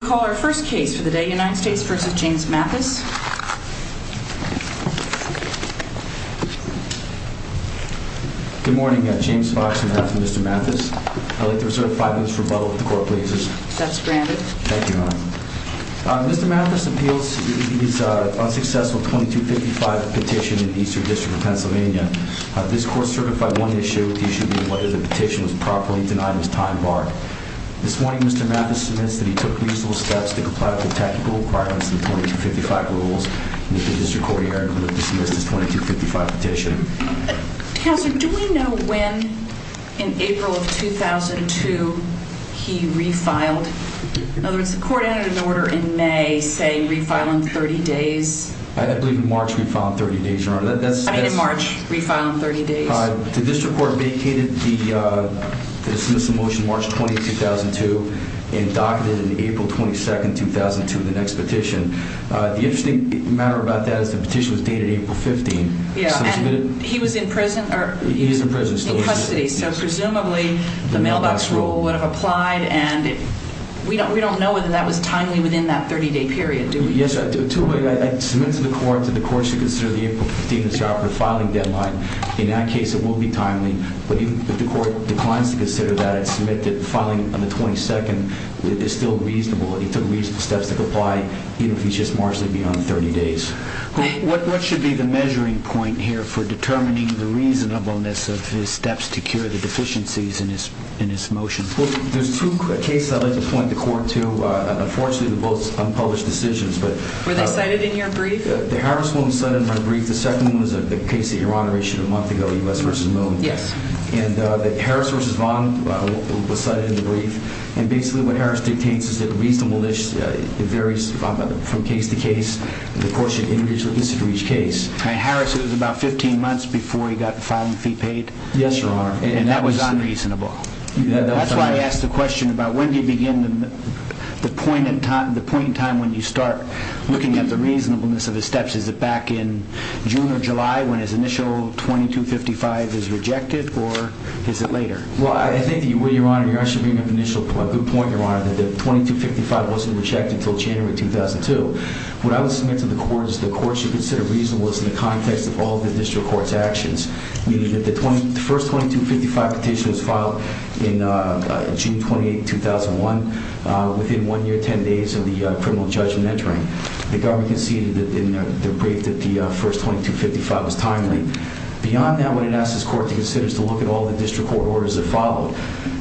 Good morning, James Fox from Mr. Mathis. I'd like to reserve five minutes for rebuttal if the court pleases. That's granted. Thank you, Your Honor. Mr. Mathis appeals his unsuccessful 2255 petition in the Eastern District of Pennsylvania. This court certified one issue with the issue being whether the petition was properly denied in its time bar. This morning, Mr. Mathis submits that he took reasonable steps to comply with the tactical requirements of the 2255 rules. And that the District Court herein would have dismissed his 2255 petition. Counselor, do we know when in April of 2002 he refiled? In other words, the court added an order in May saying refile in 30 days. I believe in March we filed in 30 days, Your Honor. I mean in March, refile in 30 days. The District Court vacated the dismissal motion March 20, 2002 and docketed it in April 22, 2002, the next petition. The interesting matter about that is the petition was dated April 15. Yeah, and he was in prison? He is in prison still. In custody, so presumably the mailbox rule would have applied and we don't know whether that was timely within that 30-day period, do we? Yes, I submit to the court that the court should consider the April 15 disoperative filing deadline. In that case, it will be timely. But even if the court declines to consider that, I submit that filing on the 22nd is still reasonable. He took reasonable steps to comply even if he's just marginally beyond 30 days. What should be the measuring point here for determining the reasonableness of his steps to cure the deficiencies in this motion? Well, there's two cases I'd like to point the court to. Unfortunately, they're both unpublished decisions. Were they cited in your brief? The Harris one was cited in my brief. The second one was the case that Your Honor issued a month ago, U.S. v. Moon. Yes. And Harris v. Vaughn was cited in the brief. And basically what Harris dictates is that reasonableness varies from case to case. The court should introduce it for each case. In Harris, it was about 15 months before he got the filing fee paid? Yes, Your Honor. And that was unreasonable? That's why I asked the question about when do you begin the point in time when you start looking at the reasonableness of his steps. Is it back in June or July when his initial 2255 is rejected, or is it later? Well, I think that you're actually bringing up a good point, Your Honor, that the 2255 wasn't rejected until January 2002. What I would submit to the court is the court should consider reasonableness in the context of all the district court's actions, meaning that the first 2255 petition was filed in June 28, 2001, within one year, 10 days of the criminal judgment entering. The government conceded in their brief that the first 2255 was timely. Beyond that, what I'd ask this court to consider is to look at all the district court orders that followed,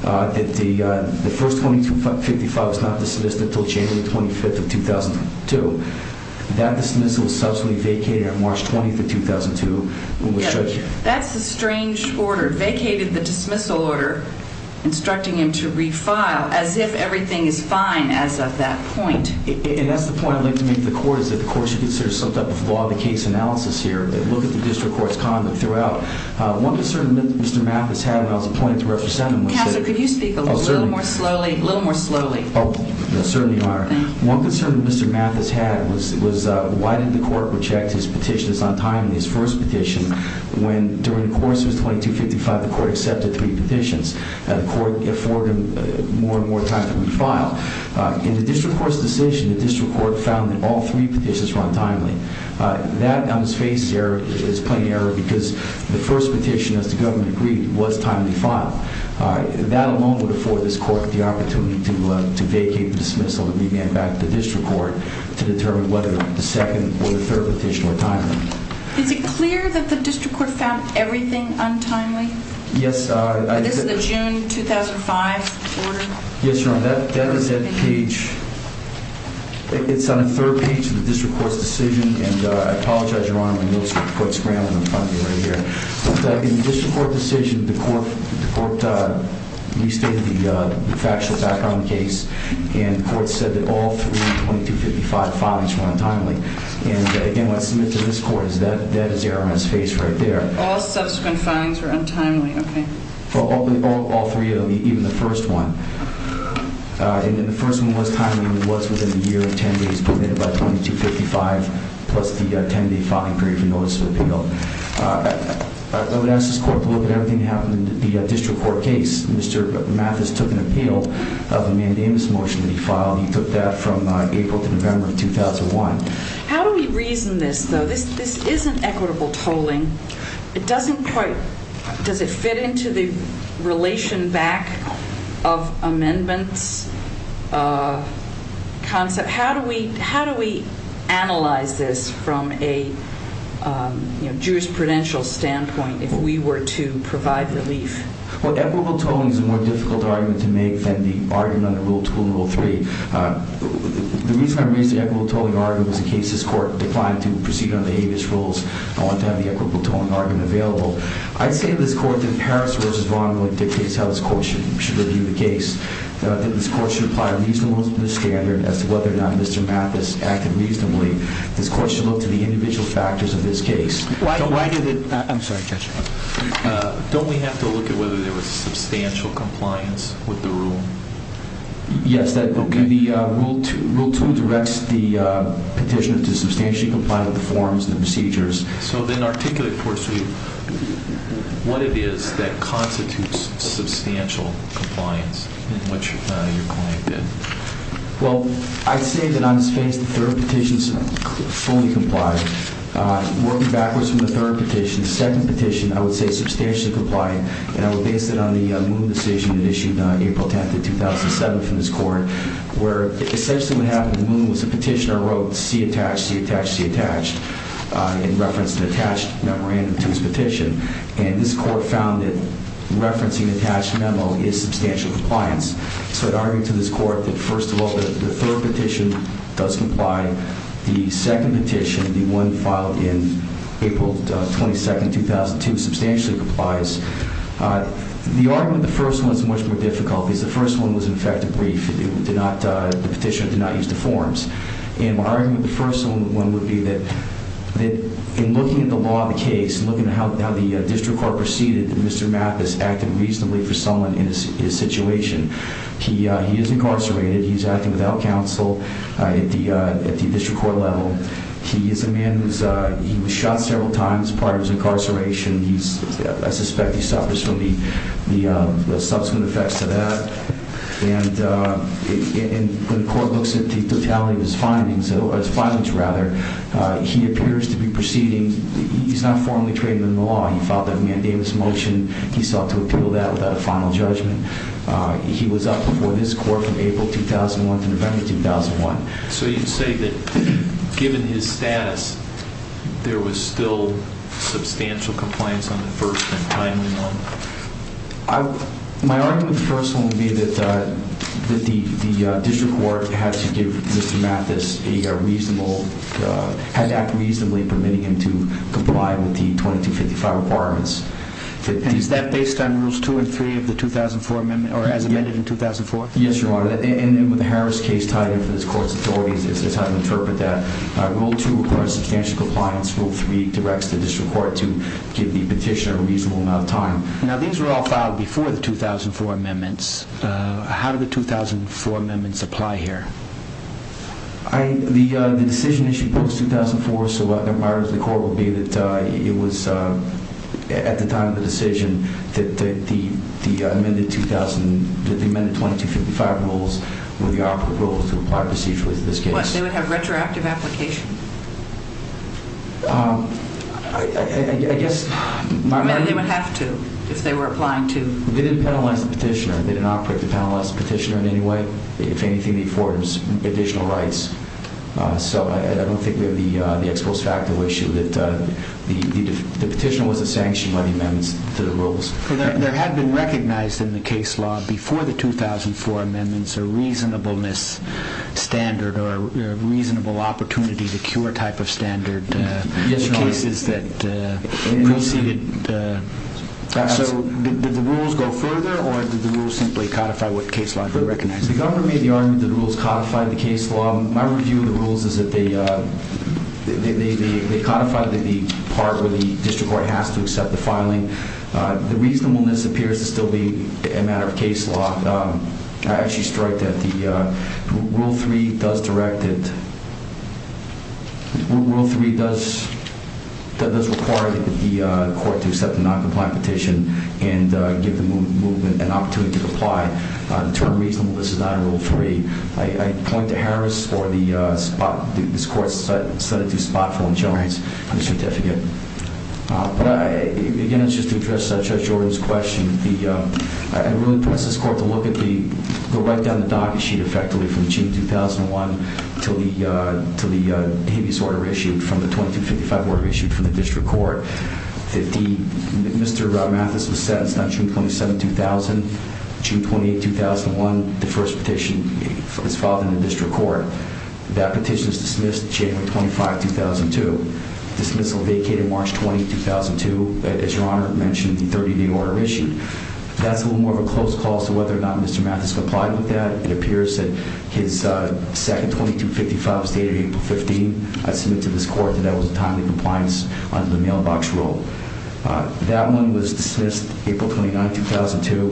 that the first 2255 was not dismissed until January 25, 2002. That dismissal was subsequently vacated on March 20, 2002. That's a strange order, vacated the dismissal order, instructing him to refile, as if everything is fine as of that point. And that's the point I'd like to make to the court, is that the court should consider some type of law of the case analysis here, and look at the district court's conduct throughout. One concern that Mr. Mathis had when I was appointed to represent him was that— Counselor, could you speak a little more slowly? Oh, certainly, Your Honor. One concern that Mr. Mathis had was, why did the court reject his petition as untimely, his first petition, when during the course of his 2255, the court accepted three petitions? The court afforded him more and more time to refile. In the district court's decision, the district court found that all three petitions were untimely. That now is faced here as plain error, because the first petition, as the government agreed, was timely filed. That alone would afford this court the opportunity to vacate the dismissal and revamp back to the district court to determine whether the second or the third petition were timely. Is it clear that the district court found everything untimely? Yes, I— This is the June 2005 order? Yes, Your Honor, that is at page— It's on the third page of the district court's decision, and I apologize, Your Honor, my notes are quite scrambled in front of me right here. In the district court decision, the court restated the factual background of the case, and the court said that all three of the 2255 filings were untimely. And again, what I submit to this court is that that is the error on its face right there. All subsequent filings were untimely, okay. All three of them, even the first one. And the first one was timely, and it was within the year of 10 days permitted by 2255, plus the 10-day filing period for notice of appeal. I would ask this court to look at everything that happened in the district court case. Mr. Mathis took an appeal of the mandamus motion that he filed. He took that from April to November of 2001. How do we reason this, though? This isn't equitable tolling. It doesn't quite—does it fit into the relation back of amendments concept? How do we analyze this from a jurisprudential standpoint if we were to provide relief? Well, equitable tolling is a more difficult argument to make than the argument under Rule 2 and Rule 3. The reason I raised the equitable tolling argument was in case this court declined to proceed under Habeas rules, I want to have the equitable tolling argument available. I say to this court that Paris v. Vaughan really dictates how this court should review the case. That this court should apply a reasonableness standard as to whether or not Mr. Mathis acted reasonably. This court should look to the individual factors of this case. Why did it—I'm sorry, Judge. Don't we have to look at whether there was substantial compliance with the rule? Yes, Rule 2 directs the petitioner to substantially comply with the forms and procedures. So then articulate for us what it is that constitutes substantial compliance in which your client did. Well, I'd say that on this case the third petition is fully complied. Working backwards from the third petition, the second petition, I would say substantially complied. And I would base it on the Moon decision that issued April 10th of 2007 from this court, where essentially what happened was the petitioner wrote C attached, C attached, C attached, and referenced an attached memorandum to his petition. And this court found that referencing an attached memo is substantial compliance. So I'd argue to this court that, first of all, the third petition does comply. The second petition, the one filed in April 22nd, 2002, substantially complies. The argument in the first one is much more difficult because the first one was in fact a brief. The petitioner did not use the forms. And my argument in the first one would be that in looking at the law of the case, looking at how the district court proceeded, Mr. Mapp has acted reasonably for someone in his situation. He is incarcerated. He's acting without counsel at the district court level. He is a man who was shot several times prior to his incarceration. I suspect he suffers from the subsequent effects of that. And when the court looks at the totality of his findings, his findings rather, he appears to be proceeding, he's not formally trained in the law. He filed that mandamus motion. He sought to appeal that without a final judgment. He was up before this court from April 2001 to November 2001. So you'd say that given his status, there was still substantial compliance on the first and final note? My argument in the first one would be that the district court had to give Mr. Mathis a reasonable, had to act reasonably permitting him to comply with the 2255 requirements. And is that based on Rules 2 and 3 of the 2004 amendment, or as amended in 2004? Yes, Your Honor. And with the Harris case tied in for this court's authorities, it's hard to interpret that. Rule 2 requires substantial compliance. Rule 3 directs the district court to give the petitioner a reasonable amount of time. Now, these were all filed before the 2004 amendments. How did the 2004 amendments apply here? The decision issued post-2004, so my argument to the court would be that it was at the time of the decision that the amended 2255 rules were the operative rules to apply procedurally to this case. So they would have retroactive application? I guess... They would have to, if they were applying to... They didn't penalize the petitioner. They didn't operate to penalize the petitioner in any way. If anything, the affordance of additional rights. So I don't think we have the ex post facto issue that the petitioner was sanctioned by the amendments to the rules. There had been recognized in the case law before the 2004 amendments a reasonableness standard or a reasonable opportunity to cure type of standard in cases that preceded... So did the rules go further or did the rules simply codify what the case law recognized? The governor made the argument that the rules codified the case law. My review of the rules is that they codified the part where the district court has to accept the filing. The reasonableness appears to still be a matter of case law. I actually strike that the Rule 3 does direct it... Rule 3 does require the court to accept a noncompliant petition and give the movement an opportunity to comply. The term reasonableness is not in Rule 3. I point to Harris or the spot... This court set it to spot for insurance on the certificate. Again, it's just to address Judge Jordan's question. I really want this court to look at the... go right down the docket sheet effectively from June 2001 to the habeas order issued from the 2255 order issued from the district court. Mr. Mathis was sentenced on June 27, 2000. June 28, 2001, the first petition is filed in the district court. That petition is dismissed January 25, 2002. Dismissal vacated March 20, 2002. As Your Honor mentioned, the 30-day order issued. That's a little more of a close call as to whether or not Mr. Mathis complied with that. It appears that his second 2255 was dated April 15. I submit to this court that that was a timely compliance under the mailbox rule. That one was dismissed April 29, 2002.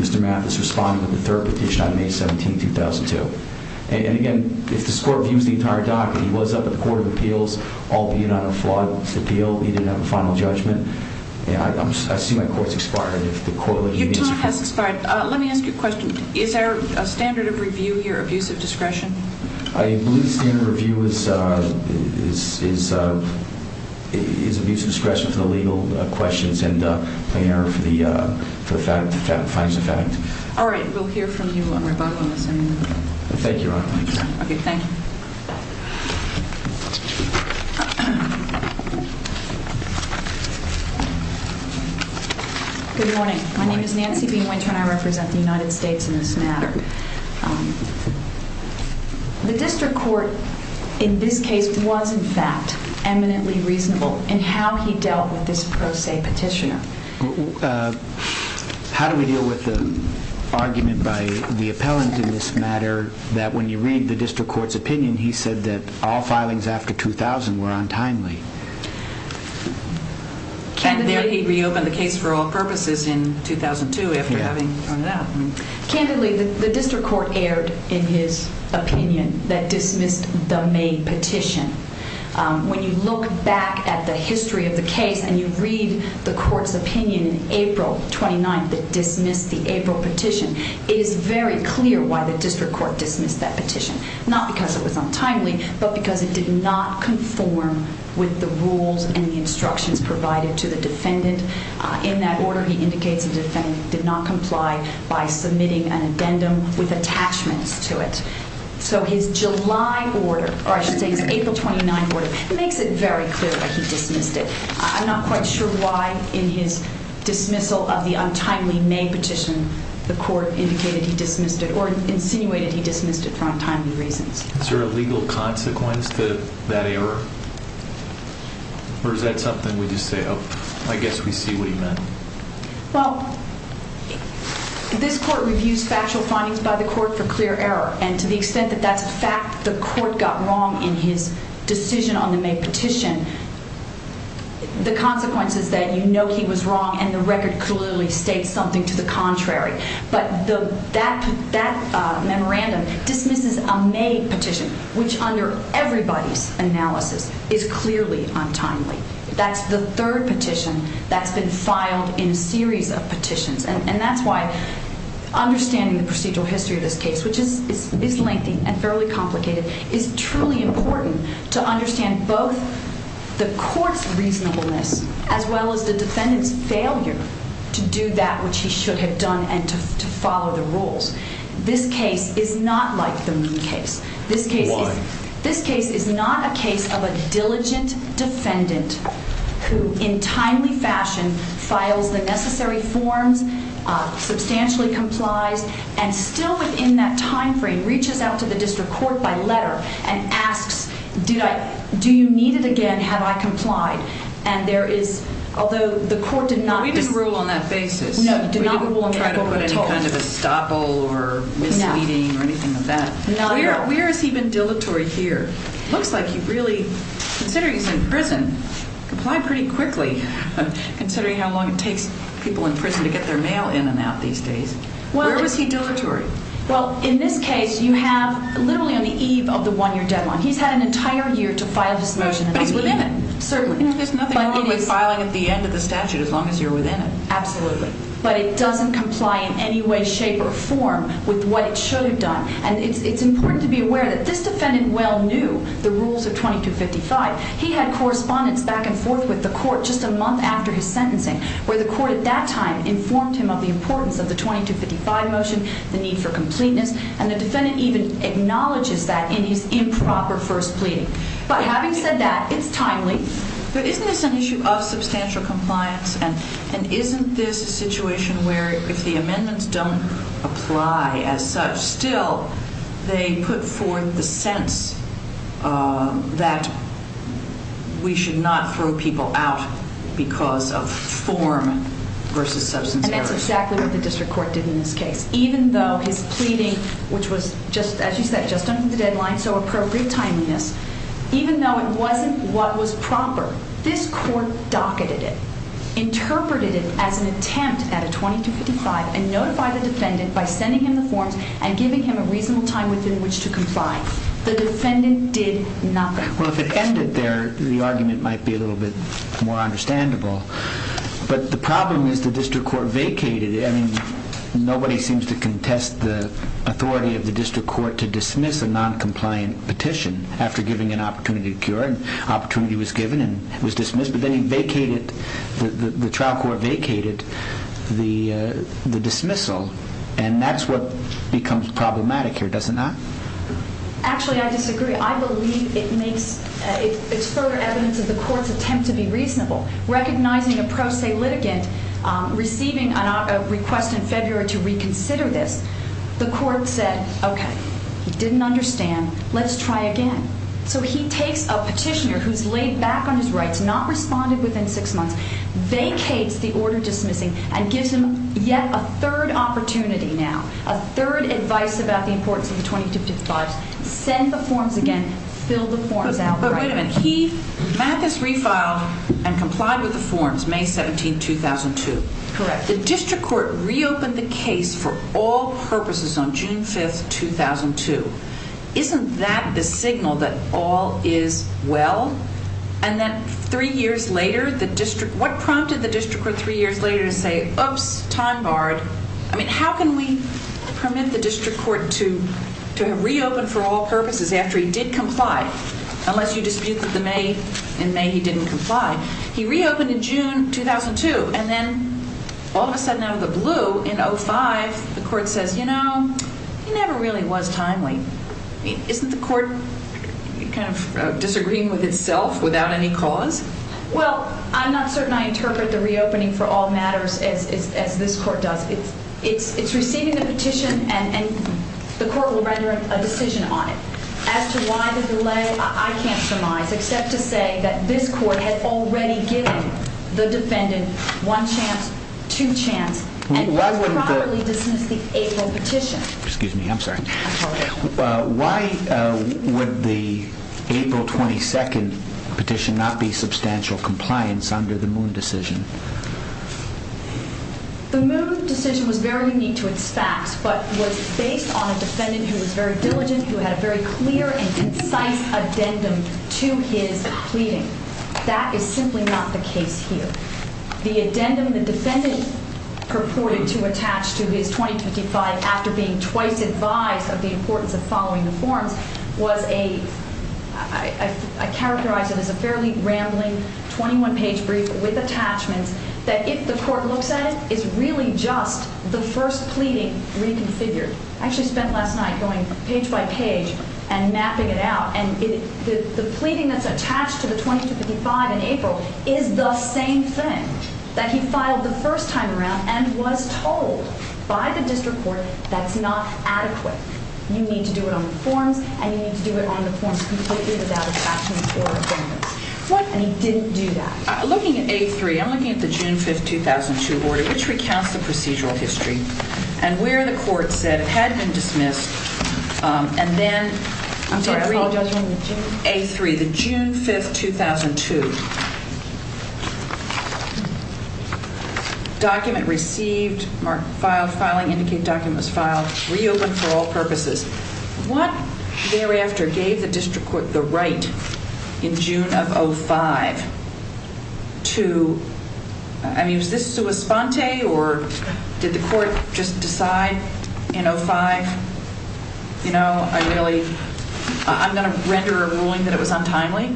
Mr. Mathis responded with the third petition on May 17, 2002. Again, if this court views the entire docket, he was up at the Court of Appeals, albeit on a flawed appeal, he didn't have a final judgment. I see my court's expired. Your time has expired. Let me ask you a question. Is there a standard of review here, abuse of discretion? I believe the standard of review is abuse of discretion for the legal questions and plain error for the facts. All right, we'll hear from you on rebuttal in a second. Thank you, Your Honor. Okay, thank you. Good morning. My name is Nancy B. Winter and I represent the United States in this matter. The district court in this case was, in fact, eminently reasonable in how he dealt with this pro se petitioner. How do we deal with the argument by the appellant in this matter that when you read the district court's opinion, he said that all filings after 2000 were untimely? And there he reopened the case for all purposes in 2002 after having thrown it out. Candidly, the district court erred in his opinion that dismissed the May petition. When you look back at the history of the case and you read the court's opinion in April 29th that dismissed the April petition, it is very clear why the district court dismissed that petition. Not because it was untimely, but because it did not conform with the rules and the instructions provided to the defendant. In that order, he indicates the defendant did not comply by submitting an addendum with attachments to it. So his July order, or I should say his April 29 order, makes it very clear that he dismissed it. I'm not quite sure why in his dismissal of the untimely May petition the court indicated he dismissed it or insinuated he dismissed it for untimely reasons. Is there a legal consequence to that error? Or is that something we just say, oh, I guess we see what he meant? Well, this court reviews factual findings by the court for clear error and to the extent that that's a fact, the court got wrong in his decision on the May petition, the consequence is that you know he was wrong and the record clearly states something to the contrary. But that memorandum dismisses a May petition, which under everybody's analysis is clearly untimely. That's the third petition that's been filed in a series of petitions. And that's why understanding the procedural history of this case, which is lengthy and fairly complicated, is truly important to understand both the court's reasonableness as well as the defendant's failure to do that which he should have done and to follow the rules. This case is not like the Moon case. Why? This case is not a case of a diligent defendant who in timely fashion files the necessary forms, substantially complies, and still within that time frame reaches out to the district court by letter and asks, do you need it again, have I complied? And there is, although the court did not rule on that basis. No, it did not rule on that at all. We didn't try to put any kind of estoppel or misleading or anything like that. No. Where has he been dilatory here? Looks like he really, considering he's in prison, complied pretty quickly, considering how long it takes people in prison to get their mail in and out these days. Where was he dilatory? Well, in this case, you have literally on the eve of the one-year deadline. He's had an entire year to file his motion. But he's within it. Certainly. There's nothing wrong with filing at the end of the statute as long as you're within it. Absolutely. But it doesn't comply in any way, shape, or form with what it should have done. And it's important to be aware that this defendant well knew the rules of 2255. He had correspondence back and forth with the court just a month after his sentencing where the court at that time informed him of the importance of the 2255 motion, the need for completeness. And the defendant even acknowledges that in his improper first pleading. But having said that, it's timely. But isn't this an issue of substantial compliance? And isn't this a situation where if the amendments don't apply as such, still they put forth the sense that we should not throw people out because of form versus substance. And that's exactly what the district court did in this case. Even though his pleading, which was, as you said, just under the deadline, so appropriate timeliness, even though it wasn't what was proper, this court docketed it, interpreted it as an attempt at a 2255, and notified the defendant by sending him the forms and giving him a reasonable time within which to comply. The defendant did nothing. Well, if it ended there, the argument might be a little bit more understandable. But the problem is the district court vacated it. I mean, nobody seems to contest the authority of the district court to dismiss a noncompliant petition after giving an opportunity to cure. Opportunity was given and it was dismissed. But then the trial court vacated the dismissal. And that's what becomes problematic here, does it not? Actually, I disagree. I believe it's further evidence of the court's attempt to be reasonable. Recognizing a pro se litigant receiving a request in February to reconsider this, the court said, okay, he didn't understand. Let's try again. So he takes a petitioner who's laid back on his rights, not responded within six months, vacates the order dismissing, and gives him yet a third opportunity now, a third advice about the importance of the 2255s, send the forms again, fill the forms out. But wait a minute. He, Mathis, refiled and complied with the forms May 17, 2002. Correct. The district court reopened the case for all purposes on June 5, 2002. Isn't that the signal that all is well? And then three years later, what prompted the district court three years later to say, oops, time barred. I mean, how can we permit the district court to have reopened for all purposes after he did comply? Unless you dispute that in May he didn't comply. He reopened in June 2002. And then all of a sudden out of the blue, in 2005, the court says, you know, he never really was timely. Isn't the court kind of disagreeing with itself without any cause? Well, I'm not certain I interpret the reopening for all matters as this court does. It's receiving the petition and the court will render a decision on it. As to why the delay, I can't surmise, except to say that this court had already given the defendant one chance, two chance. And he had already dismissed the April petition. Excuse me, I'm sorry. Why would the April 22 petition not be substantial compliance under the Moon decision? The Moon decision was very unique to its facts, but was based on a defendant who was very diligent, who had a very clear and concise addendum to his pleading. That is simply not the case here. The addendum the defendant purported to attach to his 2255 after being twice advised of the importance of following the forms was a, I characterize it as a fairly rambling 21-page brief with attachments that if the court looks at it, is really just the first pleading reconfigured. I actually spent last night going page by page and mapping it out. And the pleading that's attached to the 2255 in April is the same thing that he filed the first time around and was told by the district court that's not adequate. You need to do it on the forms, and you need to do it on the forms completely without attaching your addendums. And he didn't do that. Looking at A3, I'm looking at the June 5, 2002 order, which recounts the procedural history and where the court said it had been dismissed and then A3, the June 5, 2002, document received, marked filed, filing indicate document was filed, reopened for all purposes. What thereafter gave the district court the right in June of 05 to, I mean, was this sua sponte or did the court just decide in 05, you know, I really, I'm going to render a ruling that it was untimely?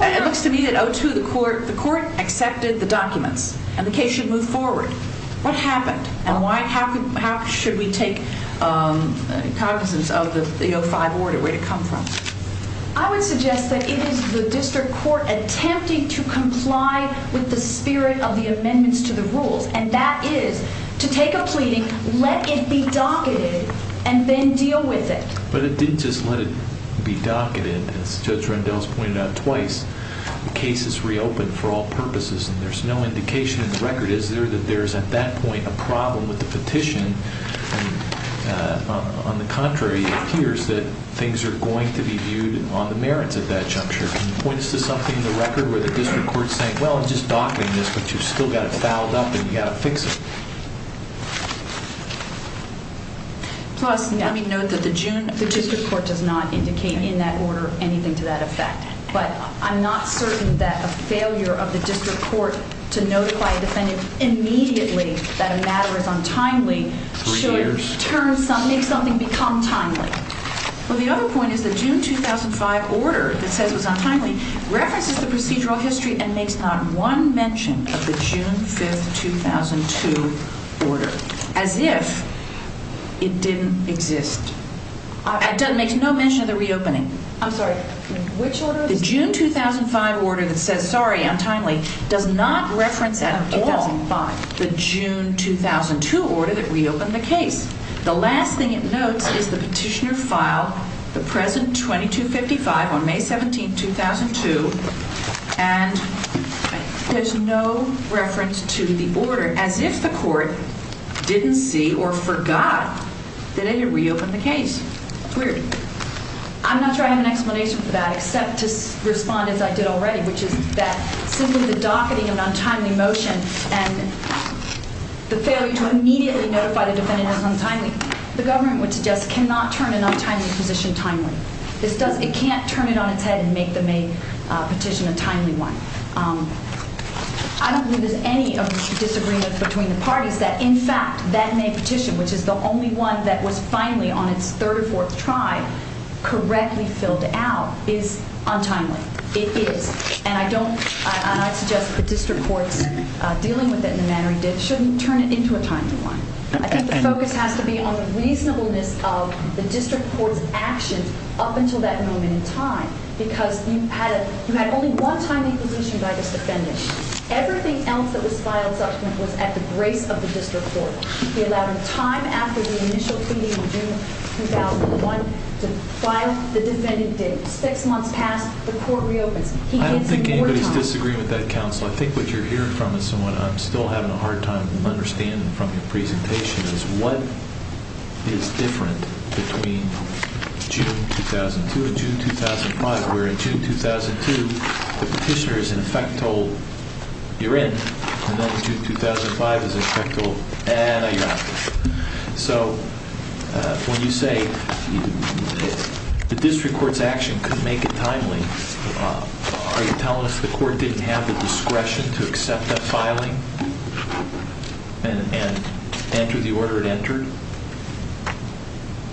It looks to me that 02, the court accepted the documents and the case should move forward. What happened and how should we take cognizance of the 05 order, where did it come from? I would suggest that it is the district court attempting to comply with the spirit of the amendments to the rules, and that is to take a pleading, let it be docketed, and then deal with it. But it didn't just let it be docketed. As Judge Rendell has pointed out twice, the case is reopened for all purposes, and there's no indication in the record, is there, that there is at that point a problem with the petition. On the contrary, it appears that things are going to be viewed on the merits of that juncture. Can you point us to something in the record where the district court is saying, well, I'm just docketing this, but you've still got it fouled up and you've got to fix it? Plus, let me note that the June of 05. The district court does not indicate in that order anything to that effect, but I'm not certain that a failure of the district court to notify a defendant immediately that a matter is untimely should make something become timely. Well, the other point is the June 2005 order that says it was untimely references the procedural history and makes not one mention of the June 5, 2002 order, as if it didn't exist. It makes no mention of the reopening. I'm sorry, which order? The June 2005 order that says, sorry, untimely, does not reference at all the June 2005, the June 2002 order that reopened the case. The last thing it notes is the petitioner filed the present 2255 on May 17, 2002, and there's no reference to the order, as if the court didn't see or forgot that it reopened the case. It's weird. I'm not sure I have an explanation for that, except to respond as I did already, which is that simply the docketing of an untimely motion and the failure to immediately notify the defendant is untimely, the government would suggest cannot turn an untimely position timely. It can't turn it on its head and make the May petition a timely one. I don't believe there's any disagreement between the parties that, in fact, that May petition, which is the only one that was finally, on its third or fourth try, correctly filled out is untimely. It is, and I don't, and I suggest that the district courts, dealing with it in the manner it did, shouldn't turn it into a timely one. I think the focus has to be on the reasonableness of the district court's actions up until that moment in time, because you had only one timely petition by this defendant. Everything else that was filed subsequently was at the grace of the district court. We allowed a time after the initial pleading in June 2001 to file the defendant did. Six months passed, the court reopens. I don't think anybody's disagreeing with that, counsel. I think what you're hearing from us and what I'm still having a hard time understanding from your presentation is what is different between June 2002 and June 2005, where in June 2002 the petitioner is, in effect, told you're in, and then in June 2005 is, in effect, told, eh, no, you're not. So when you say the district court's action couldn't make it timely, are you telling us the court didn't have the discretion to accept that filing and enter the order it entered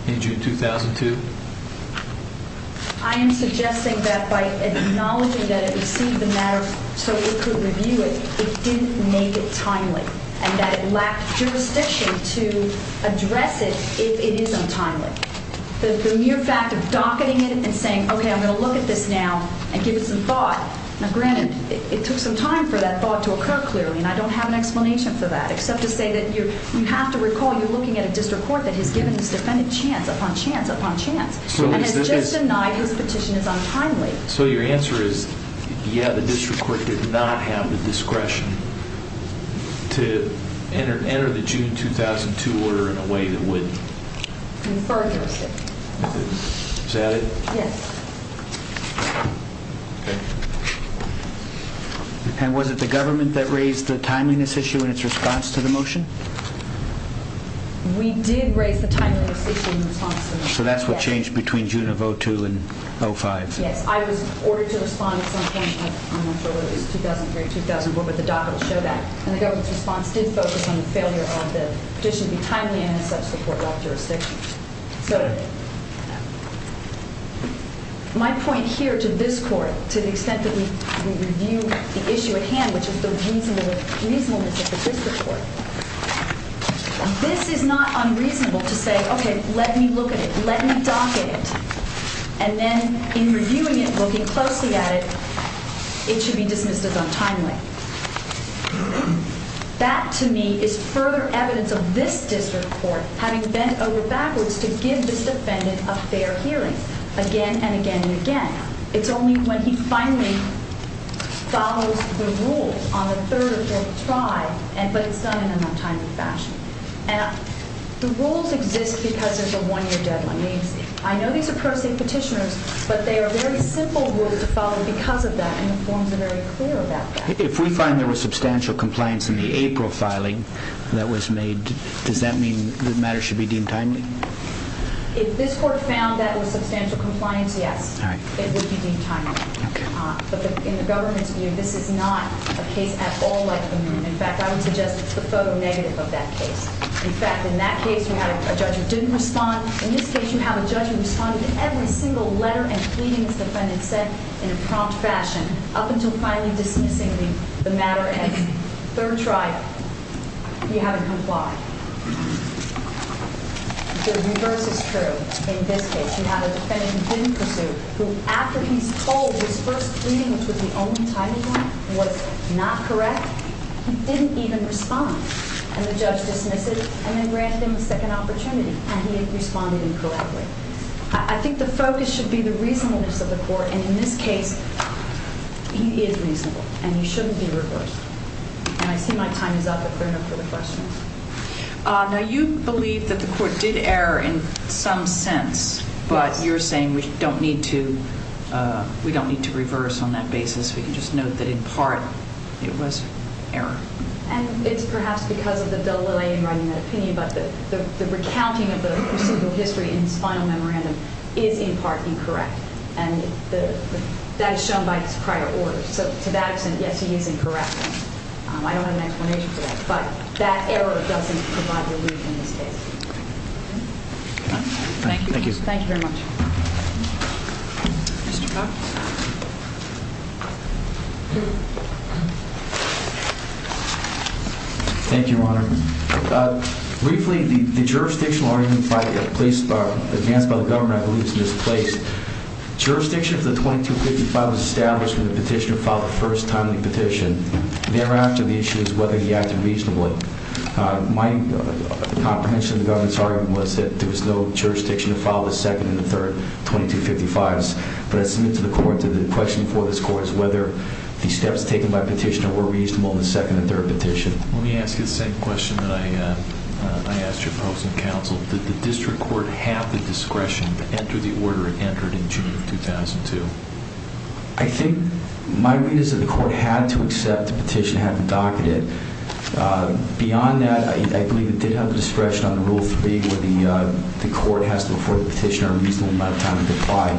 in June 2002? I am suggesting that by acknowledging that it received the matter so it could review it, it didn't make it timely and that it lacked jurisdiction to address it if it is untimely. The mere fact of docketing it and saying, okay, I'm going to look at this now and give it some thought. Now, granted, it took some time for that thought to occur clearly, and I don't have an explanation for that, except to say that you have to recall you're looking at a district court that has given this defendant chance upon chance upon chance and has just denied his petition is untimely. So your answer is, yeah, the district court did not have the discretion to enter the June 2002 order in a way that would? Confer jurisdiction. Is that it? Yes. And was it the government that raised the timeliness issue in its response to the motion? We did raise the timeliness issue in response to the motion. So that's what changed between June of 2002 and 2005? Yes. I was ordered to respond at some point. I'm not sure whether it was 2003 or 2004, but the docket will show that. And the government's response did focus on the failure of the petition to be timely and in such support without jurisdiction. So did they. My point here to this court, to the extent that we review the issue at hand, which is the reasonableness of the district court, this is not unreasonable to say, okay, let me look at it, let me docket it. And then in reviewing it, looking closely at it, it should be dismissed as untimely. That to me is further evidence of this district court having bent over backwards to give this defendant a fair hearing again and again and again. It's only when he finally follows the rules on the third or fourth try, but it's done in an untimely fashion. And the rules exist because there's a one-year deadline. I know these are pro se petitioners, but they are very simple rules to follow because of that, and the forms are very clear about that. If we find there was substantial compliance in the April filing that was made, does that mean the matter should be deemed timely? If this court found that it was substantial compliance, yes. It would be deemed timely. But in the government's view, this is not a case at all like the Moon. In fact, I would suggest it's the photo negative of that case. In fact, in that case, we had a judge who didn't respond. In this case, you have a judge who responded to every single letter and pleading this defendant said in a prompt fashion up until finally dismissing the matter at third try. You haven't complied. The reverse is true. In this case, you have a defendant who didn't pursue, who after he's told his first pleading, which was the only timely one, was not correct. He didn't even respond. And the judge dismissed it and then granted him a second opportunity. And he responded incorrectly. I think the focus should be the reasonableness of the court. And in this case, he is reasonable, and he shouldn't be reversed. And I see my time is up if there are enough further questions. Now, you believe that the court did error in some sense. But you're saying we don't need to reverse on that basis. We can just note that in part it was error. And it's perhaps because of the delay in writing that opinion, but the recounting of the history in his final memorandum is in part incorrect. And that is shown by his prior orders. So to that extent, yes, he is incorrect. I don't have an explanation for that. But that error doesn't provide relief in this case. Thank you. Thank you very much. Mr. Cox. Thank you, Your Honor. Briefly, the jurisdictional argument advanced by the government, I believe, is misplaced. Jurisdiction of the 2255 was established when the petitioner filed the first timely petition. Thereafter, the issue is whether he acted reasonably. My comprehension of the government's argument was that there was no jurisdiction to file the second and the third 2255s. But I submit to the court, to the question before this court, is whether the steps taken by the petitioner were reasonable in the second and third petition. Let me ask you the same question that I asked your probes and counsel. Did the district court have the discretion to enter the order it entered in June of 2002? I think my read is that the court had to accept the petition, had to docket it. Beyond that, I believe it did have the discretion under Rule 3 where the court has to afford the petitioner a reasonable amount of time to comply.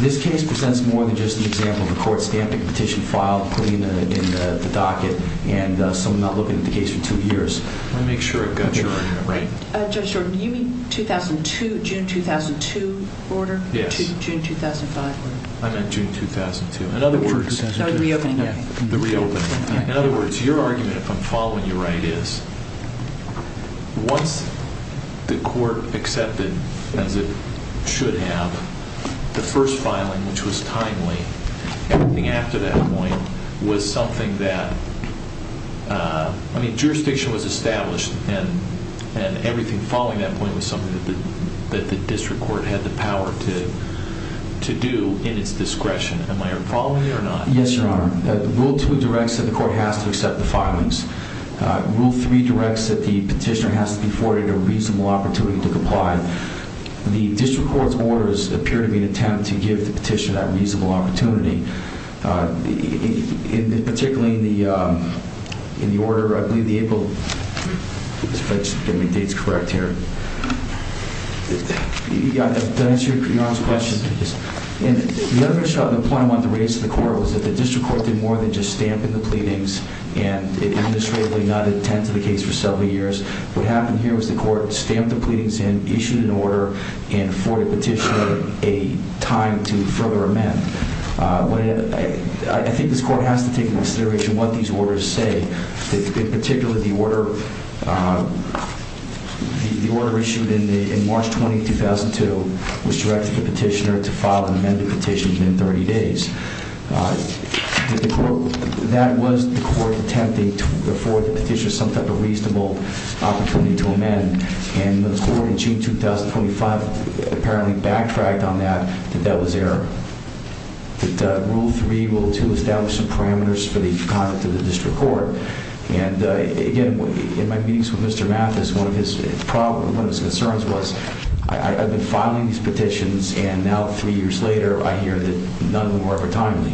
This case presents more than just an example of a court stamping a petition filed, putting it in the docket, and someone not looking at the case for two years. Let me make sure I've got your order right. Judge Jordan, do you mean 2002, June 2002 order? Yes. June 2005 order? I meant June 2002. In other words, your argument, if I'm following you right, is once the court accepted, as it should have, the first filing, which was timely, everything after that point was something that, I mean, jurisdiction was established, and everything following that point was something that the district court had the power to do in its discretion. Am I following you or not? Yes, Your Honor. Rule 2 directs that the court has to accept the filings. Rule 3 directs that the petitioner has to be afforded a reasonable opportunity to comply. The district court's orders appear to be an attempt to give the petitioner that reasonable opportunity, particularly in the order, I believe the April, let me make sure I get my dates correct here. Did I answer Your Honor's question? Yes. The other issue on the point I wanted to raise to the court was that the district court did more than just stamp in the pleadings and administratively not attend to the case for several years. What happened here was the court stamped the pleadings in, issued an order, and afforded the petitioner a time to further amend. I think this court has to take into consideration what these orders say. In particular, the order issued in March 20, 2002, which directed the petitioner to file an amended petition within 30 days. That was the court attempting to afford the petitioner some type of reasonable opportunity to amend. The court in June 2025 apparently backtracked on that, that that was error. Rule 3, Rule 2 established some parameters for the conduct of the district court. Again, in my meetings with Mr. Mathis, one of his concerns was, I've been filing these petitions and now three years later I hear that none of them were ever timely.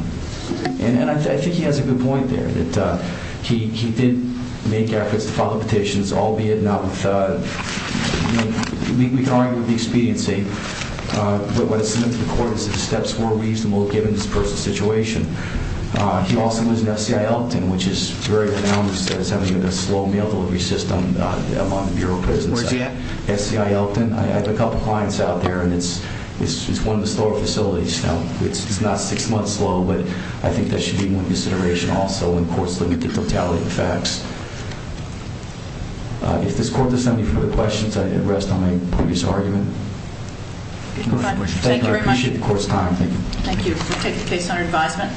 And I think he has a good point there. He did make efforts to file the petitions, albeit not with, we can argue with the expediency, but what it's meant to the court is that the steps were reasonable given this personal situation. He also was in SCI Elton, which is very renowned as having a slow mail delivery system among the Bureau of Prisons. Where's he at? SCI Elton. I have a couple clients out there and it's one of the slower facilities. It's not six months slow, but I think that should be one consideration also when courts limit the totality of facts. If this court does have any further questions, I'd rest on my previous argument. Thank you. I appreciate the court's time. Thank you. Thank you. We'll take the case under advisement.